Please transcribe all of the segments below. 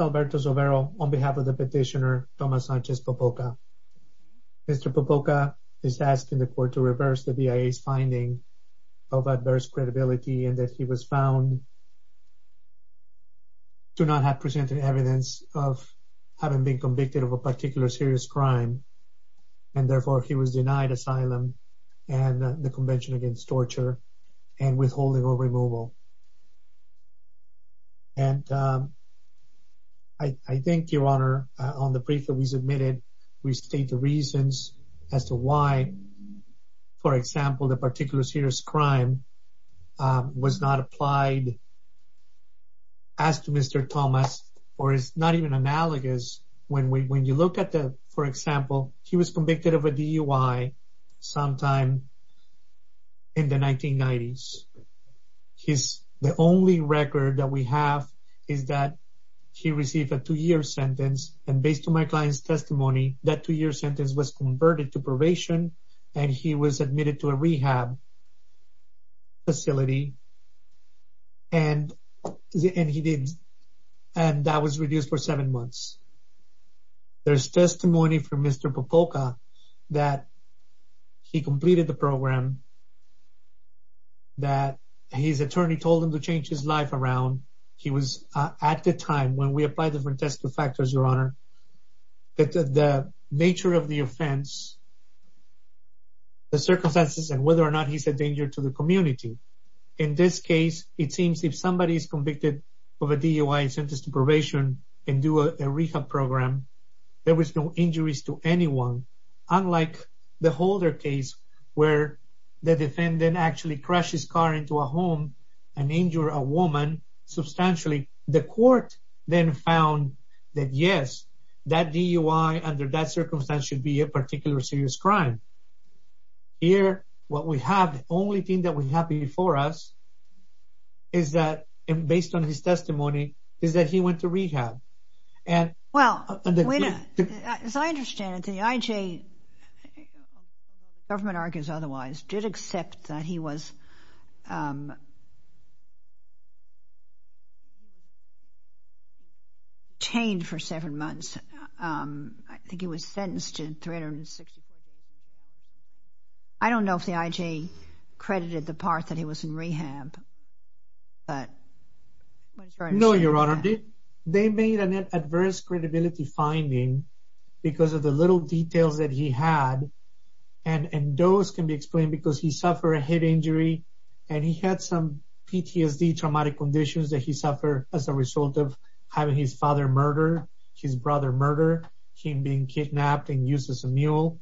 Alberto Zovero on behalf of the petitioner Tomas Sanchez Popoca. Mr. Popoca is asked in the court to reverse the BIA's finding of adverse credibility and that he was found to not have presented evidence of having been convicted of a particular serious crime and therefore he was denied asylum and the convention against torture and withholding or for example the particular serious crime was not applied as to Mr. Tomas or is not even analogous when we when you look at the for example he was convicted of a DUI sometime in the 1990s. His the only record that we have is that he received a two-year sentence and based on my sentence was converted to probation and he was admitted to a rehab facility and he did and that was reduced for seven months. There's testimony from Mr. Popoca that he completed the program that his attorney told him to change his life around. He was at the time when we applied different test factors your honor that the nature of the offense, the circumstances and whether or not he's a danger to the community. In this case it seems if somebody is convicted of a DUI sentenced to probation and do a rehab program there was no injuries to anyone unlike the Holder case where the defendant actually crashed his car into a home and injured a woman substantially. The court then found that yes that DUI under that circumstance should be a particular serious crime. Here what we have the only thing that we have before us is that and based on his testimony is that he went to rehab and well as I understand it the IJ the government argues otherwise did accept that he was chained for seven months. I think he was sentenced to 364 days. I don't know if the IJ credited the part that he was in rehab but. No your honor they made an adverse credibility finding because of the little details that he had and those can be explained because he suffered a head injury and he had some PTSD traumatic conditions that he suffered as a result of having his father murdered, his brother murdered, him being kidnapped and used as a mule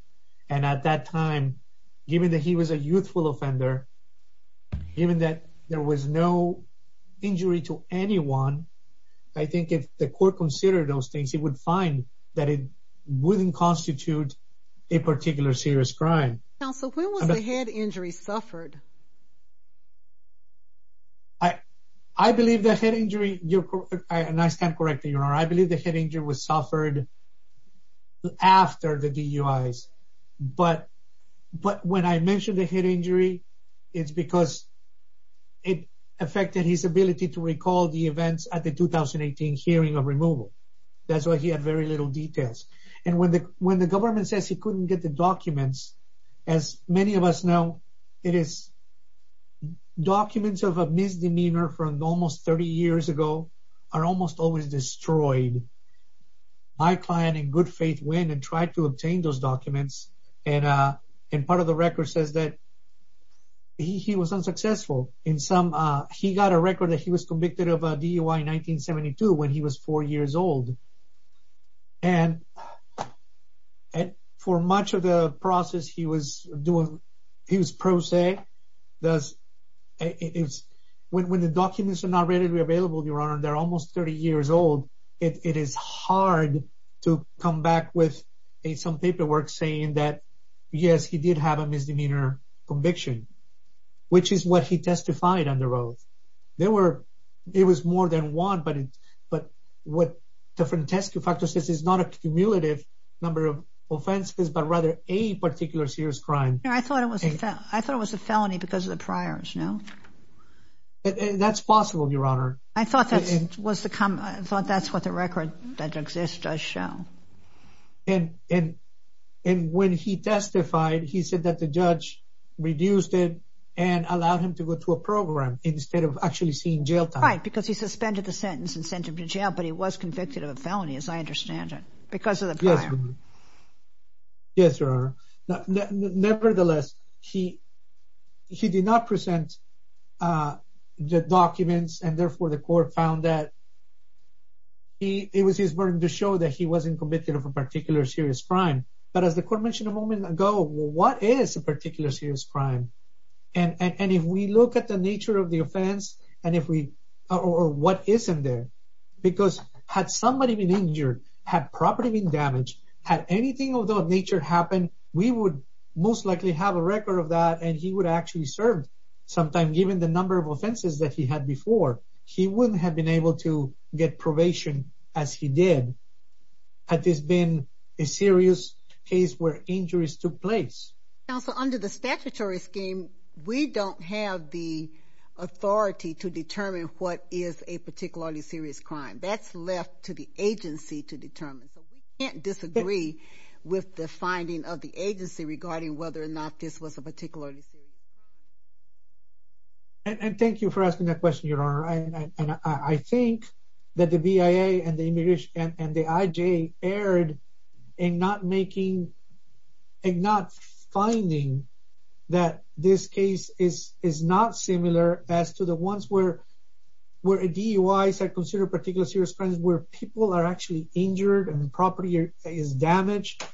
and at that time given that he was a youthful offender, given that there was no injury to those things, he would find that it wouldn't constitute a particular serious crime. Counsel when was the head injury suffered? I believe the head injury, and I stand corrected your honor, I believe the head injury was suffered after the DUIs but when I mention the head injury it's because it affected his ability to recall the events at the 2018 hearing of removal. That's why he had very little details and when the government says he couldn't get the documents as many of us know it is documents of a misdemeanor from almost 30 years ago are almost always destroyed. My client in good faith went and tried to obtain those documents and part of the record says that he was unsuccessful. He got a record that he was convicted of a DUI in 1972 when he was four years old and for much of the process he was doing he was pro se. When the documents are not readily available your honor they're almost 30 years old it is hard to come back with some paperwork saying that yes he did have a misdemeanor conviction which is what he testified under oath. There were it was more than one but but what the frantescue factor says is not a cumulative number of offenses but rather a particular serious crime. I thought it was I thought it was a felony because of the priors no? That's possible your honor. I thought that was the that's what the record that exists does show. And when he testified he said that the judge reduced it and allowed him to go to a program instead of actually seeing jail time. Right because he suspended the sentence and sent him to jail but he was convicted of a felony as I understand it because of the prior. Yes your honor. Nevertheless he did not present the documents and therefore the court found that he it was his burden to show that he wasn't committed of a particular serious crime but as the court mentioned a moment ago what is a particular serious crime and and if we look at the nature of the offense and if we or what isn't there because had somebody been injured, had property been damaged, had anything of that nature happen we would most likely have a record of that and he would actually served sometime given the number of offenses that he had before. He wouldn't have been able to get probation as he did had this been a serious case where injuries took place. Counsel under the statutory scheme we don't have the authority to determine what is a particularly serious crime. That's left to the agency to determine so we can't disagree with the finding of the agency regarding whether or not this was a particularly serious crime. And thank you for asking that question your honor and I think that the BIA and the immigration and the IJ erred in not making and not finding that this case is is not similar as to the ones where where DUIs are considered particular serious crimes where people are actually injured and property is damaged.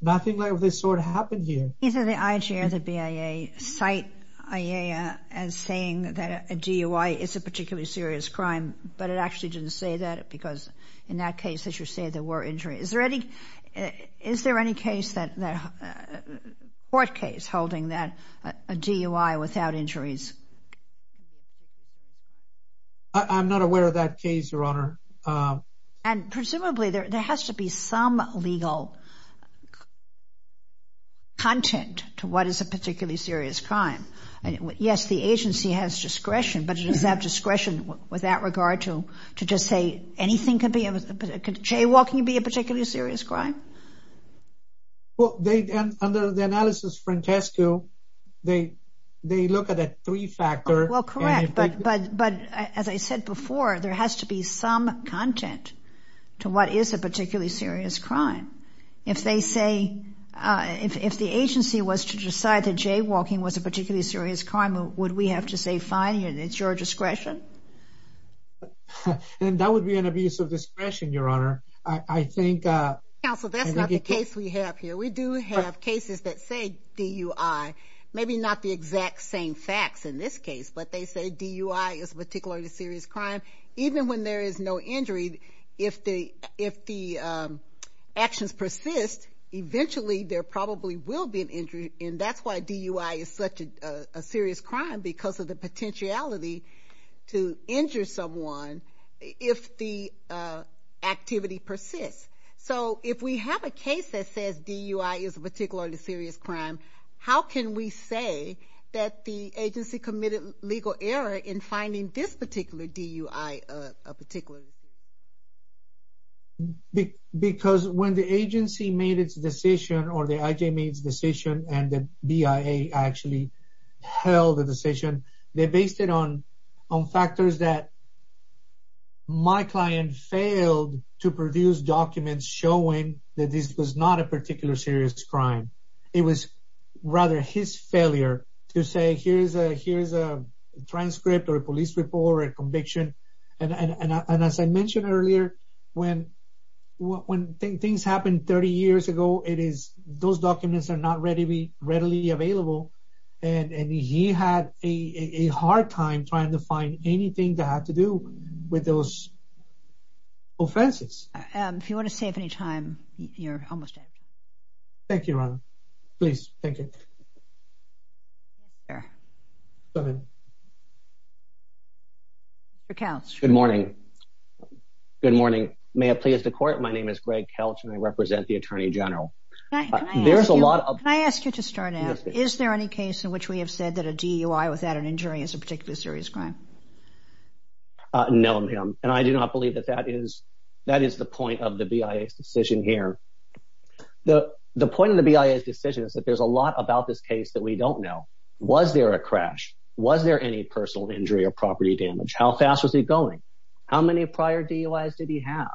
Nothing like this sort of happened here. Either the IJ or the BIA cite IA as saying that a DUI is a particularly serious crime but it actually didn't say that because in that case that you say there were injuries. Is there any is there any case that court case holding that a DUI without injuries? I'm not aware of that case your honor. And presumably there has to be some legal content to what is a particularly serious crime and yes the agency has discretion but it does have discretion with that regard to to just say anything could be a could jaywalking be a particularly serious crime? Well they and under the analysis Francesco they they look at a three factor. Well correct but but but as I said before there has to be some content to what is a if they say if if the agency was to decide that jaywalking was a particularly serious crime would we have to say fine it's your discretion? And that would be an abuse of discretion your honor. I I think uh. Counsel that's not the case we have here we do have cases that say DUI maybe not the exact same facts in this case but they say DUI is particularly serious crime even when there is no injury if the if the actions persist eventually there probably will be an injury and that's why DUI is such a serious crime because of the potentiality to injure someone if the activity persists. So if we have a case that says DUI is a particularly DUI a particular. Because when the agency made its decision or the IJ made its decision and the BIA actually held the decision they based it on on factors that my client failed to produce documents showing that this was not a particular serious crime. It was rather his failure to say here's a here's a transcript or a police report or a conviction and and as I mentioned earlier when when things happen 30 years ago it is those documents are not readily readily available and and he had a a hard time trying to find anything that had to do with those offenses. If you want to save any time you're almost out. Thank you. Please. Thank you. Good morning. Good morning. May it please the court my name is Greg Kelch and I represent the Attorney General. There's a lot of. Can I ask you to start out. Is there any case in which we have said that a DUI without an injury is a particularly serious crime? No ma'am and I do point of the BIA's decision here. The the point of the BIA's decision is that there's a lot about this case that we don't know. Was there a crash? Was there any personal injury or property damage? How fast was he going? How many prior DUIs did he have?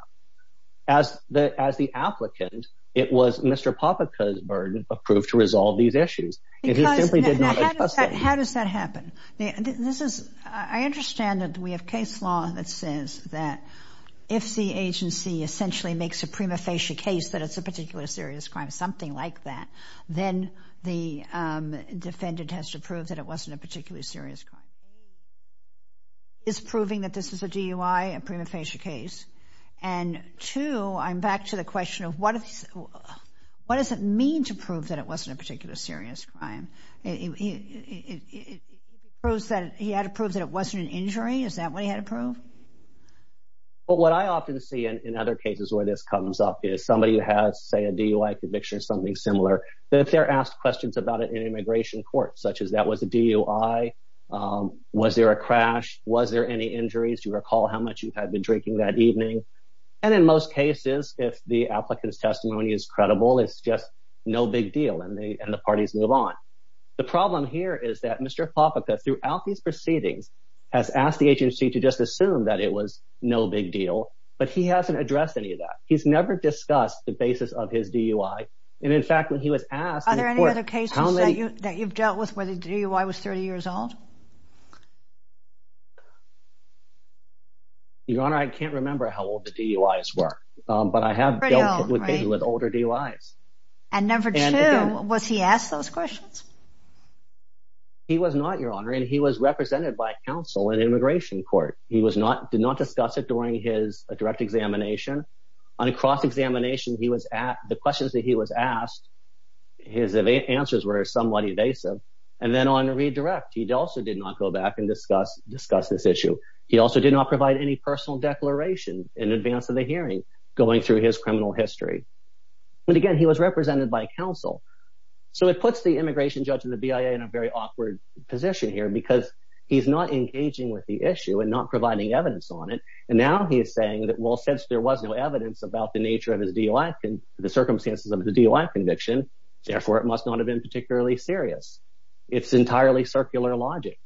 As the as the applicant it was Mr. Popica's burden approved to resolve these issues. How does that happen? This is I understand that we have a case law that says that if the agency essentially makes a prima facie case that it's a particular serious crime something like that then the defendant has to prove that it wasn't a particular serious crime. A is proving that this is a DUI a prima facie case and two I'm back to the question of what if what does it mean to prove that it wasn't a particular serious crime? It proves that he had to prove that it wasn't an injury is that what he had to prove? But what I often see in other cases where this comes up is somebody who has say a DUI conviction something similar that they're asked questions about it in immigration court such as that was a DUI, was there a crash, was there any injuries? Do you recall how much you had been drinking that evening? And in most cases if the applicant's testimony is credible it's just no big deal and they and the parties move on. The problem here is that Mr. Popica throughout these proceedings has asked the agency to just assume that it was no big deal but he hasn't addressed any of that. He's never discussed the basis of his DUI and in fact when he was asked are there any other cases that you that you've dealt with where the DUI was 30 years old? Your honor I can't remember how old the DUIs were but I have dealt with older DUIs. And number two was he asked those questions? He was not your honor and he was represented by counsel in immigration court. He was not did not discuss it during his direct examination. On a cross-examination he was at the questions that he was asked his answers were somewhat evasive and then on a redirect he also did not go back and discuss discuss this issue. He also did not provide any personal declaration in advance of hearing going through his criminal history. But again he was represented by counsel so it puts the immigration judge and the BIA in a very awkward position here because he's not engaging with the issue and not providing evidence on it and now he is saying that well since there was no evidence about the nature of his DUI and the circumstances of the DUI conviction therefore it must not have been particularly serious. It's entirely circular logic.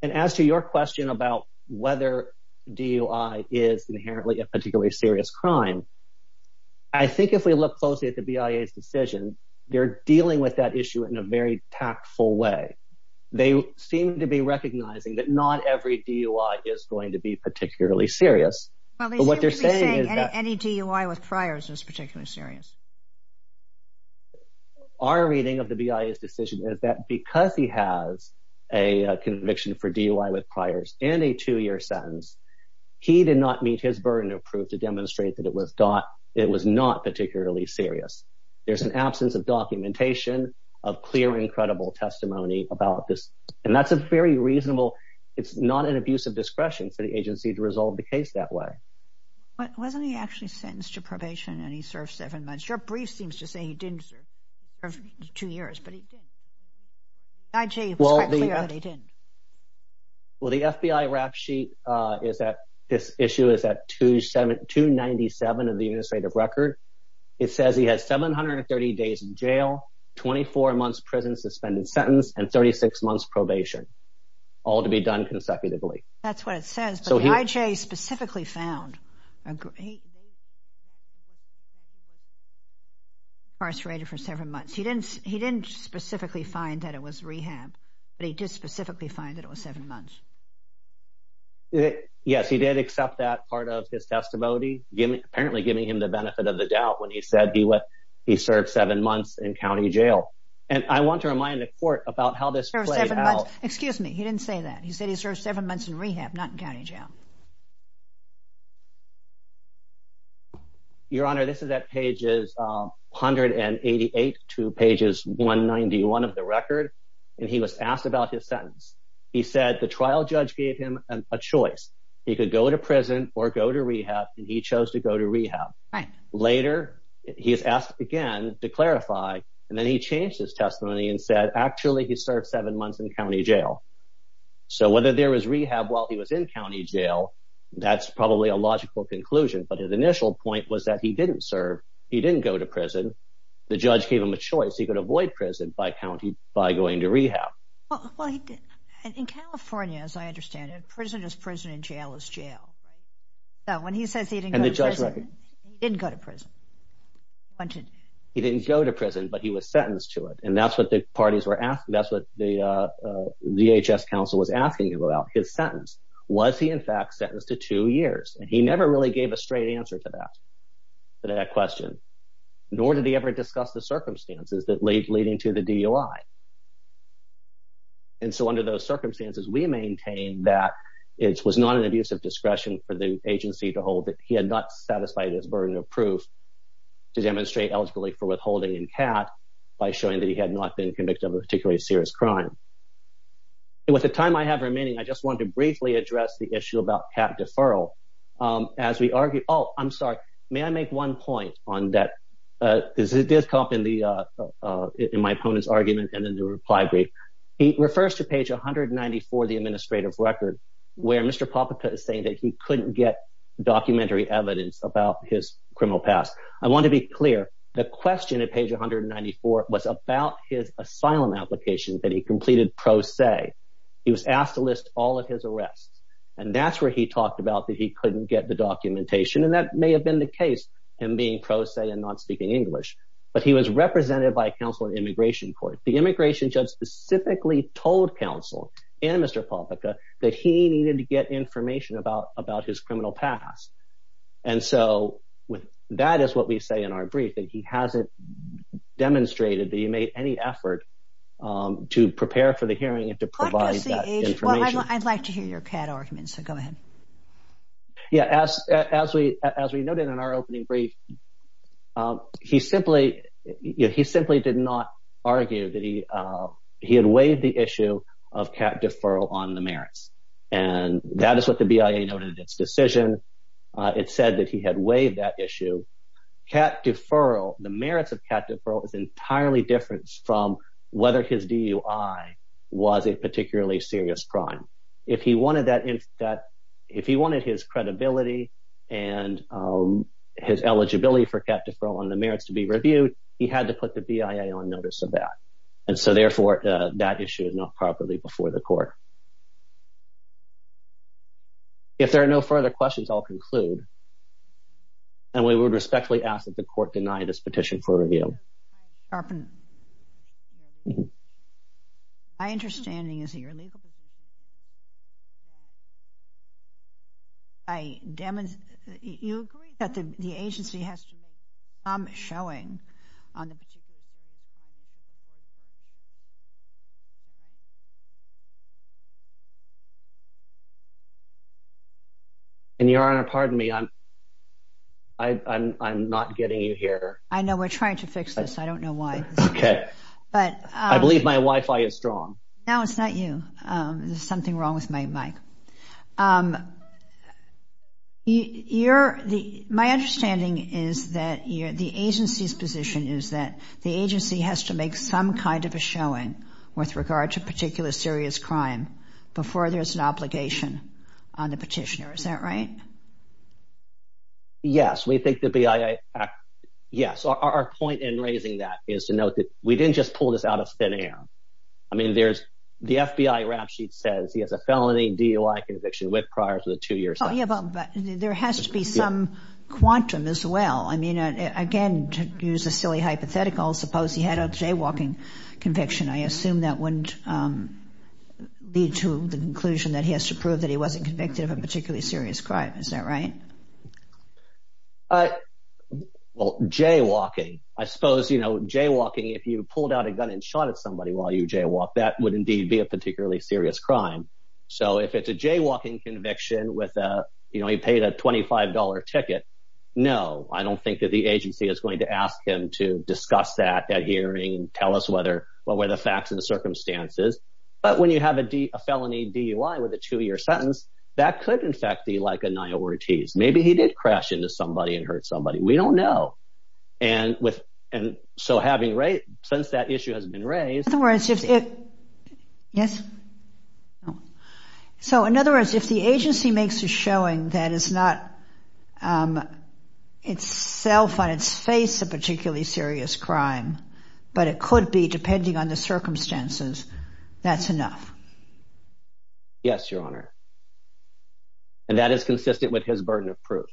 And as to your question about whether DUI is inherently a particularly serious crime I think if we look closely at the BIA's decision they're dealing with that issue in a very tactful way. They seem to be recognizing that not every DUI is going to be particularly serious but what they're saying is that any DUI with priors is particularly serious. Our reading of the BIA's decision is that because he has a conviction for DUI with priors and a two-year sentence he did not meet his burden of proof to demonstrate that it was not particularly serious. There's an absence of documentation of clear and credible testimony about this and that's a very reasonable it's not an abuse of discretion for the agency to resolve the case that way. Wasn't he actually sentenced to probation and he didn't? Well the FBI rap sheet is that this issue is at 297 of the administrative record. It says he has 730 days in jail, 24 months prison suspended sentence and 36 months probation all to be done consecutively. That's what it says but IJ specifically found incarcerated for several months. He didn't he didn't specifically find that it was rehab but he did specifically find that it was seven months. Yes he did accept that part of his testimony giving apparently giving him the benefit of the doubt when he said he would he served seven months in county jail and I want to remind the court about how this excuse me he didn't say that he said he served seven months in rehab not in county jail. Your honor this is at pages 188 to pages 191 of the record and he was asked about his sentence. He said the trial judge gave him a choice he could go to prison or go to rehab and he chose to go to rehab. Right. Later he's asked again to clarify and then he changed his testimony and said actually he served seven months in county jail. So whether there was rehab while he was in county jail that's probably a logical conclusion but his initial point was that he didn't serve he didn't go to prison the judge gave him a choice he could avoid prison by county by going to rehab. Well he did in California as I understand it prison is prison and jail is jail. So when he says he didn't go to prison he didn't go to prison. He didn't go to prison but he was that's what the DHS counsel was asking him about his sentence was he in fact sentenced to two years and he never really gave a straight answer to that to that question nor did he ever discuss the circumstances that lead leading to the DUI. And so under those circumstances we maintain that it was not an abuse of discretion for the agency to hold that he had not satisfied his burden of proof to demonstrate eligibly for withholding in cat by showing that he had not been convicted of a particularly serious crime. With the time I have remaining I just want to briefly address the issue about cat deferral. As we argue oh I'm sorry may I make one point on that. This did come up in the in my opponent's argument and then the reply brief. He refers to page 194 the administrative record where Mr. Popica is saying that he couldn't get documentary evidence about his criminal past. I want to be clear the question at page 194 was about his asylum application that he completed pro se. He was asked to list all of his arrests and that's where he talked about that he couldn't get the documentation and that may have been the case him being pro se and not speaking English. But he was represented by a counsel in immigration court. The immigration judge specifically told counsel and Mr. Popica that he needed to get information about about criminal past. And so with that is what we say in our brief that he hasn't demonstrated that he made any effort to prepare for the hearing and to provide information. I'd like to hear your cat argument so go ahead. Yeah as as we as we noted in our opening brief he simply you know he simply did not argue that he he had waived the issue of cat deferral on the merits and that is what the decision it said that he had waived that issue. Cat deferral the merits of cat deferral is entirely different from whether his DUI was a particularly serious crime. If he wanted that if that if he wanted his credibility and his eligibility for cat deferral on the merits to be reviewed he had to put the BIA on notice of that and so therefore that issue is not properly before the court. If there are no further questions I'll conclude and we would respectfully ask that the court deny this petition for review. My understanding is your legal position I demonstrate you agree that the the agency has to make some showing on the particular and your honor pardon me I'm I'm I'm not getting you here. I know we're trying to fix this I don't know why okay but I believe my wi-fi is strong. No it's not you um there's something wrong with my mic um you you're the my understanding is that you're the agency's position is that the agency has to make some kind of a showing with regard to particular serious crime before there's an obligation on the petitioner is that right? Yes we think the BIA yes our point in raising that is to note that we didn't just pull this out of thin air I mean there's the FBI rap sheet says he has a felony DUI conviction with prior to the two years. Oh yeah but there has to be some quantum as well I mean again to use a silly hypothetical suppose he had a jaywalking conviction I assume that wouldn't um lead to the conclusion that he has to prove that he wasn't convicted of a particularly serious crime is that right? Uh well jaywalking I suppose you know jaywalking if you pulled out a gun and shot at somebody while you jaywalk that would indeed be a particularly serious crime so if it's a jaywalking conviction with a you know he paid a $25 ticket no I don't think that the agency is to ask him to discuss that at hearing tell us whether what were the facts and the circumstances but when you have a D a felony DUI with a two-year sentence that could in fact be like a nail Ortiz maybe he did crash into somebody and hurt somebody we don't know and with and so having right since that issue has been raised. In other words if it yes so in other words if the agency makes a showing that it's not um itself on its face a particularly serious crime but it could be depending on the circumstances that's enough? Yes your honor and that is consistent with his Yes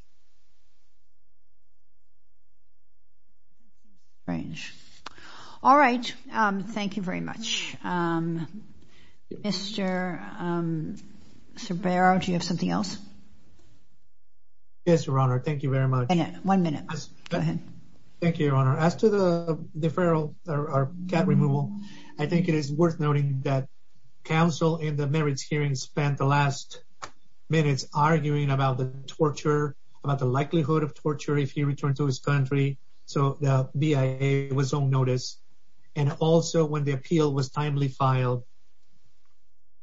your honor thank you very much. One minute go ahead. Thank you your honor as to the deferral or cat removal I think it is worth noting that counsel in the merits hearing spent the last minutes arguing about the torture about the likelihood of torture if he returned to his country so the BIA was on notice and also when the appeal was timely filed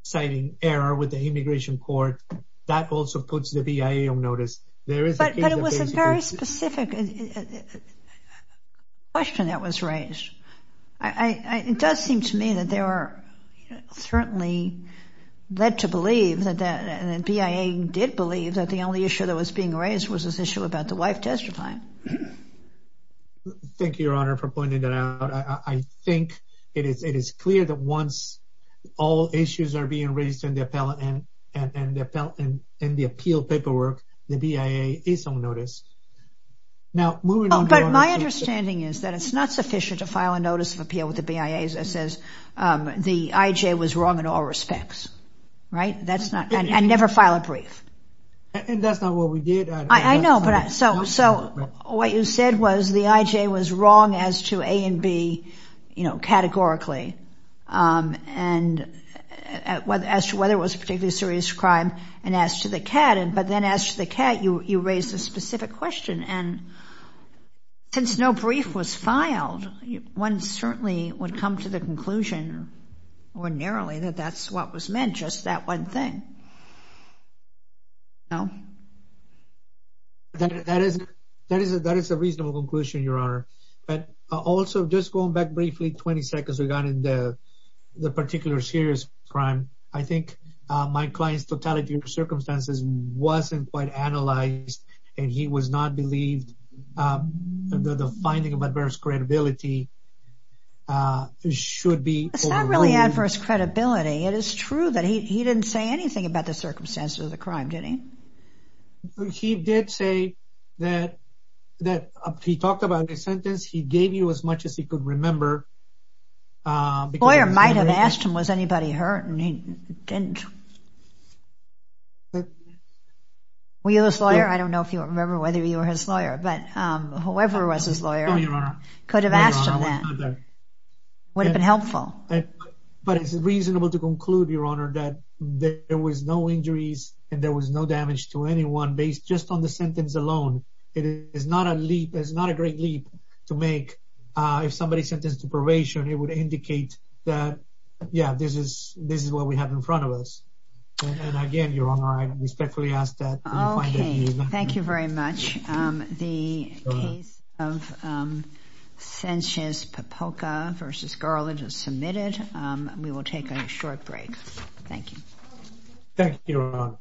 citing error with the immigration court that also puts the BIA on notice. But it was a very specific question that was raised I it does seem to me that there are certainly led to believe that that and the BIA did believe that the only issue that was being raised was this issue about the once all issues are being raised in the appellate and in the appeal paperwork the BIA is on notice. Now moving on but my understanding is that it's not sufficient to file a notice of appeal with the BIA that says um the IJ was wrong in all respects right that's not and never file a brief and that's not what we did. I know but so so what you said was the IJ was wrong as to A and B you know categorically um and what as to whether it was particularly serious crime and as to the cat and but then as to the cat you you raised a specific question and since no brief was filed one certainly would come to the conclusion ordinarily that that's what was meant just that one thing. No that is that is that is a reasonable conclusion your honor but also just going back briefly 20 seconds we got in the the particular serious crime I think my client's totality of circumstances wasn't quite analyzed and he was not believed um the finding of adverse credibility uh should be. It's not really adverse credibility it is true that he he didn't say anything about the circumstances of the crime did he? He did say that that he talked about the sentence he gave you as much as he could remember. Lawyer might have asked him was anybody hurt and he didn't. Were you his lawyer? I don't know if you remember whether you were his lawyer but um whoever was his lawyer could have asked him that would have been helpful. But it's reasonable to conclude your honor that there was no injuries and there was no damage to anyone based just on sentence alone. It is not a leap it's not a great leap to make uh if somebody sentenced to probation it would indicate that yeah this is this is what we have in front of us and again your honor I respectfully ask that. Okay thank you very much um the case of um Sanchez-Popoca versus Garland is submitted um we will take a short break thank you. Thank you your honor.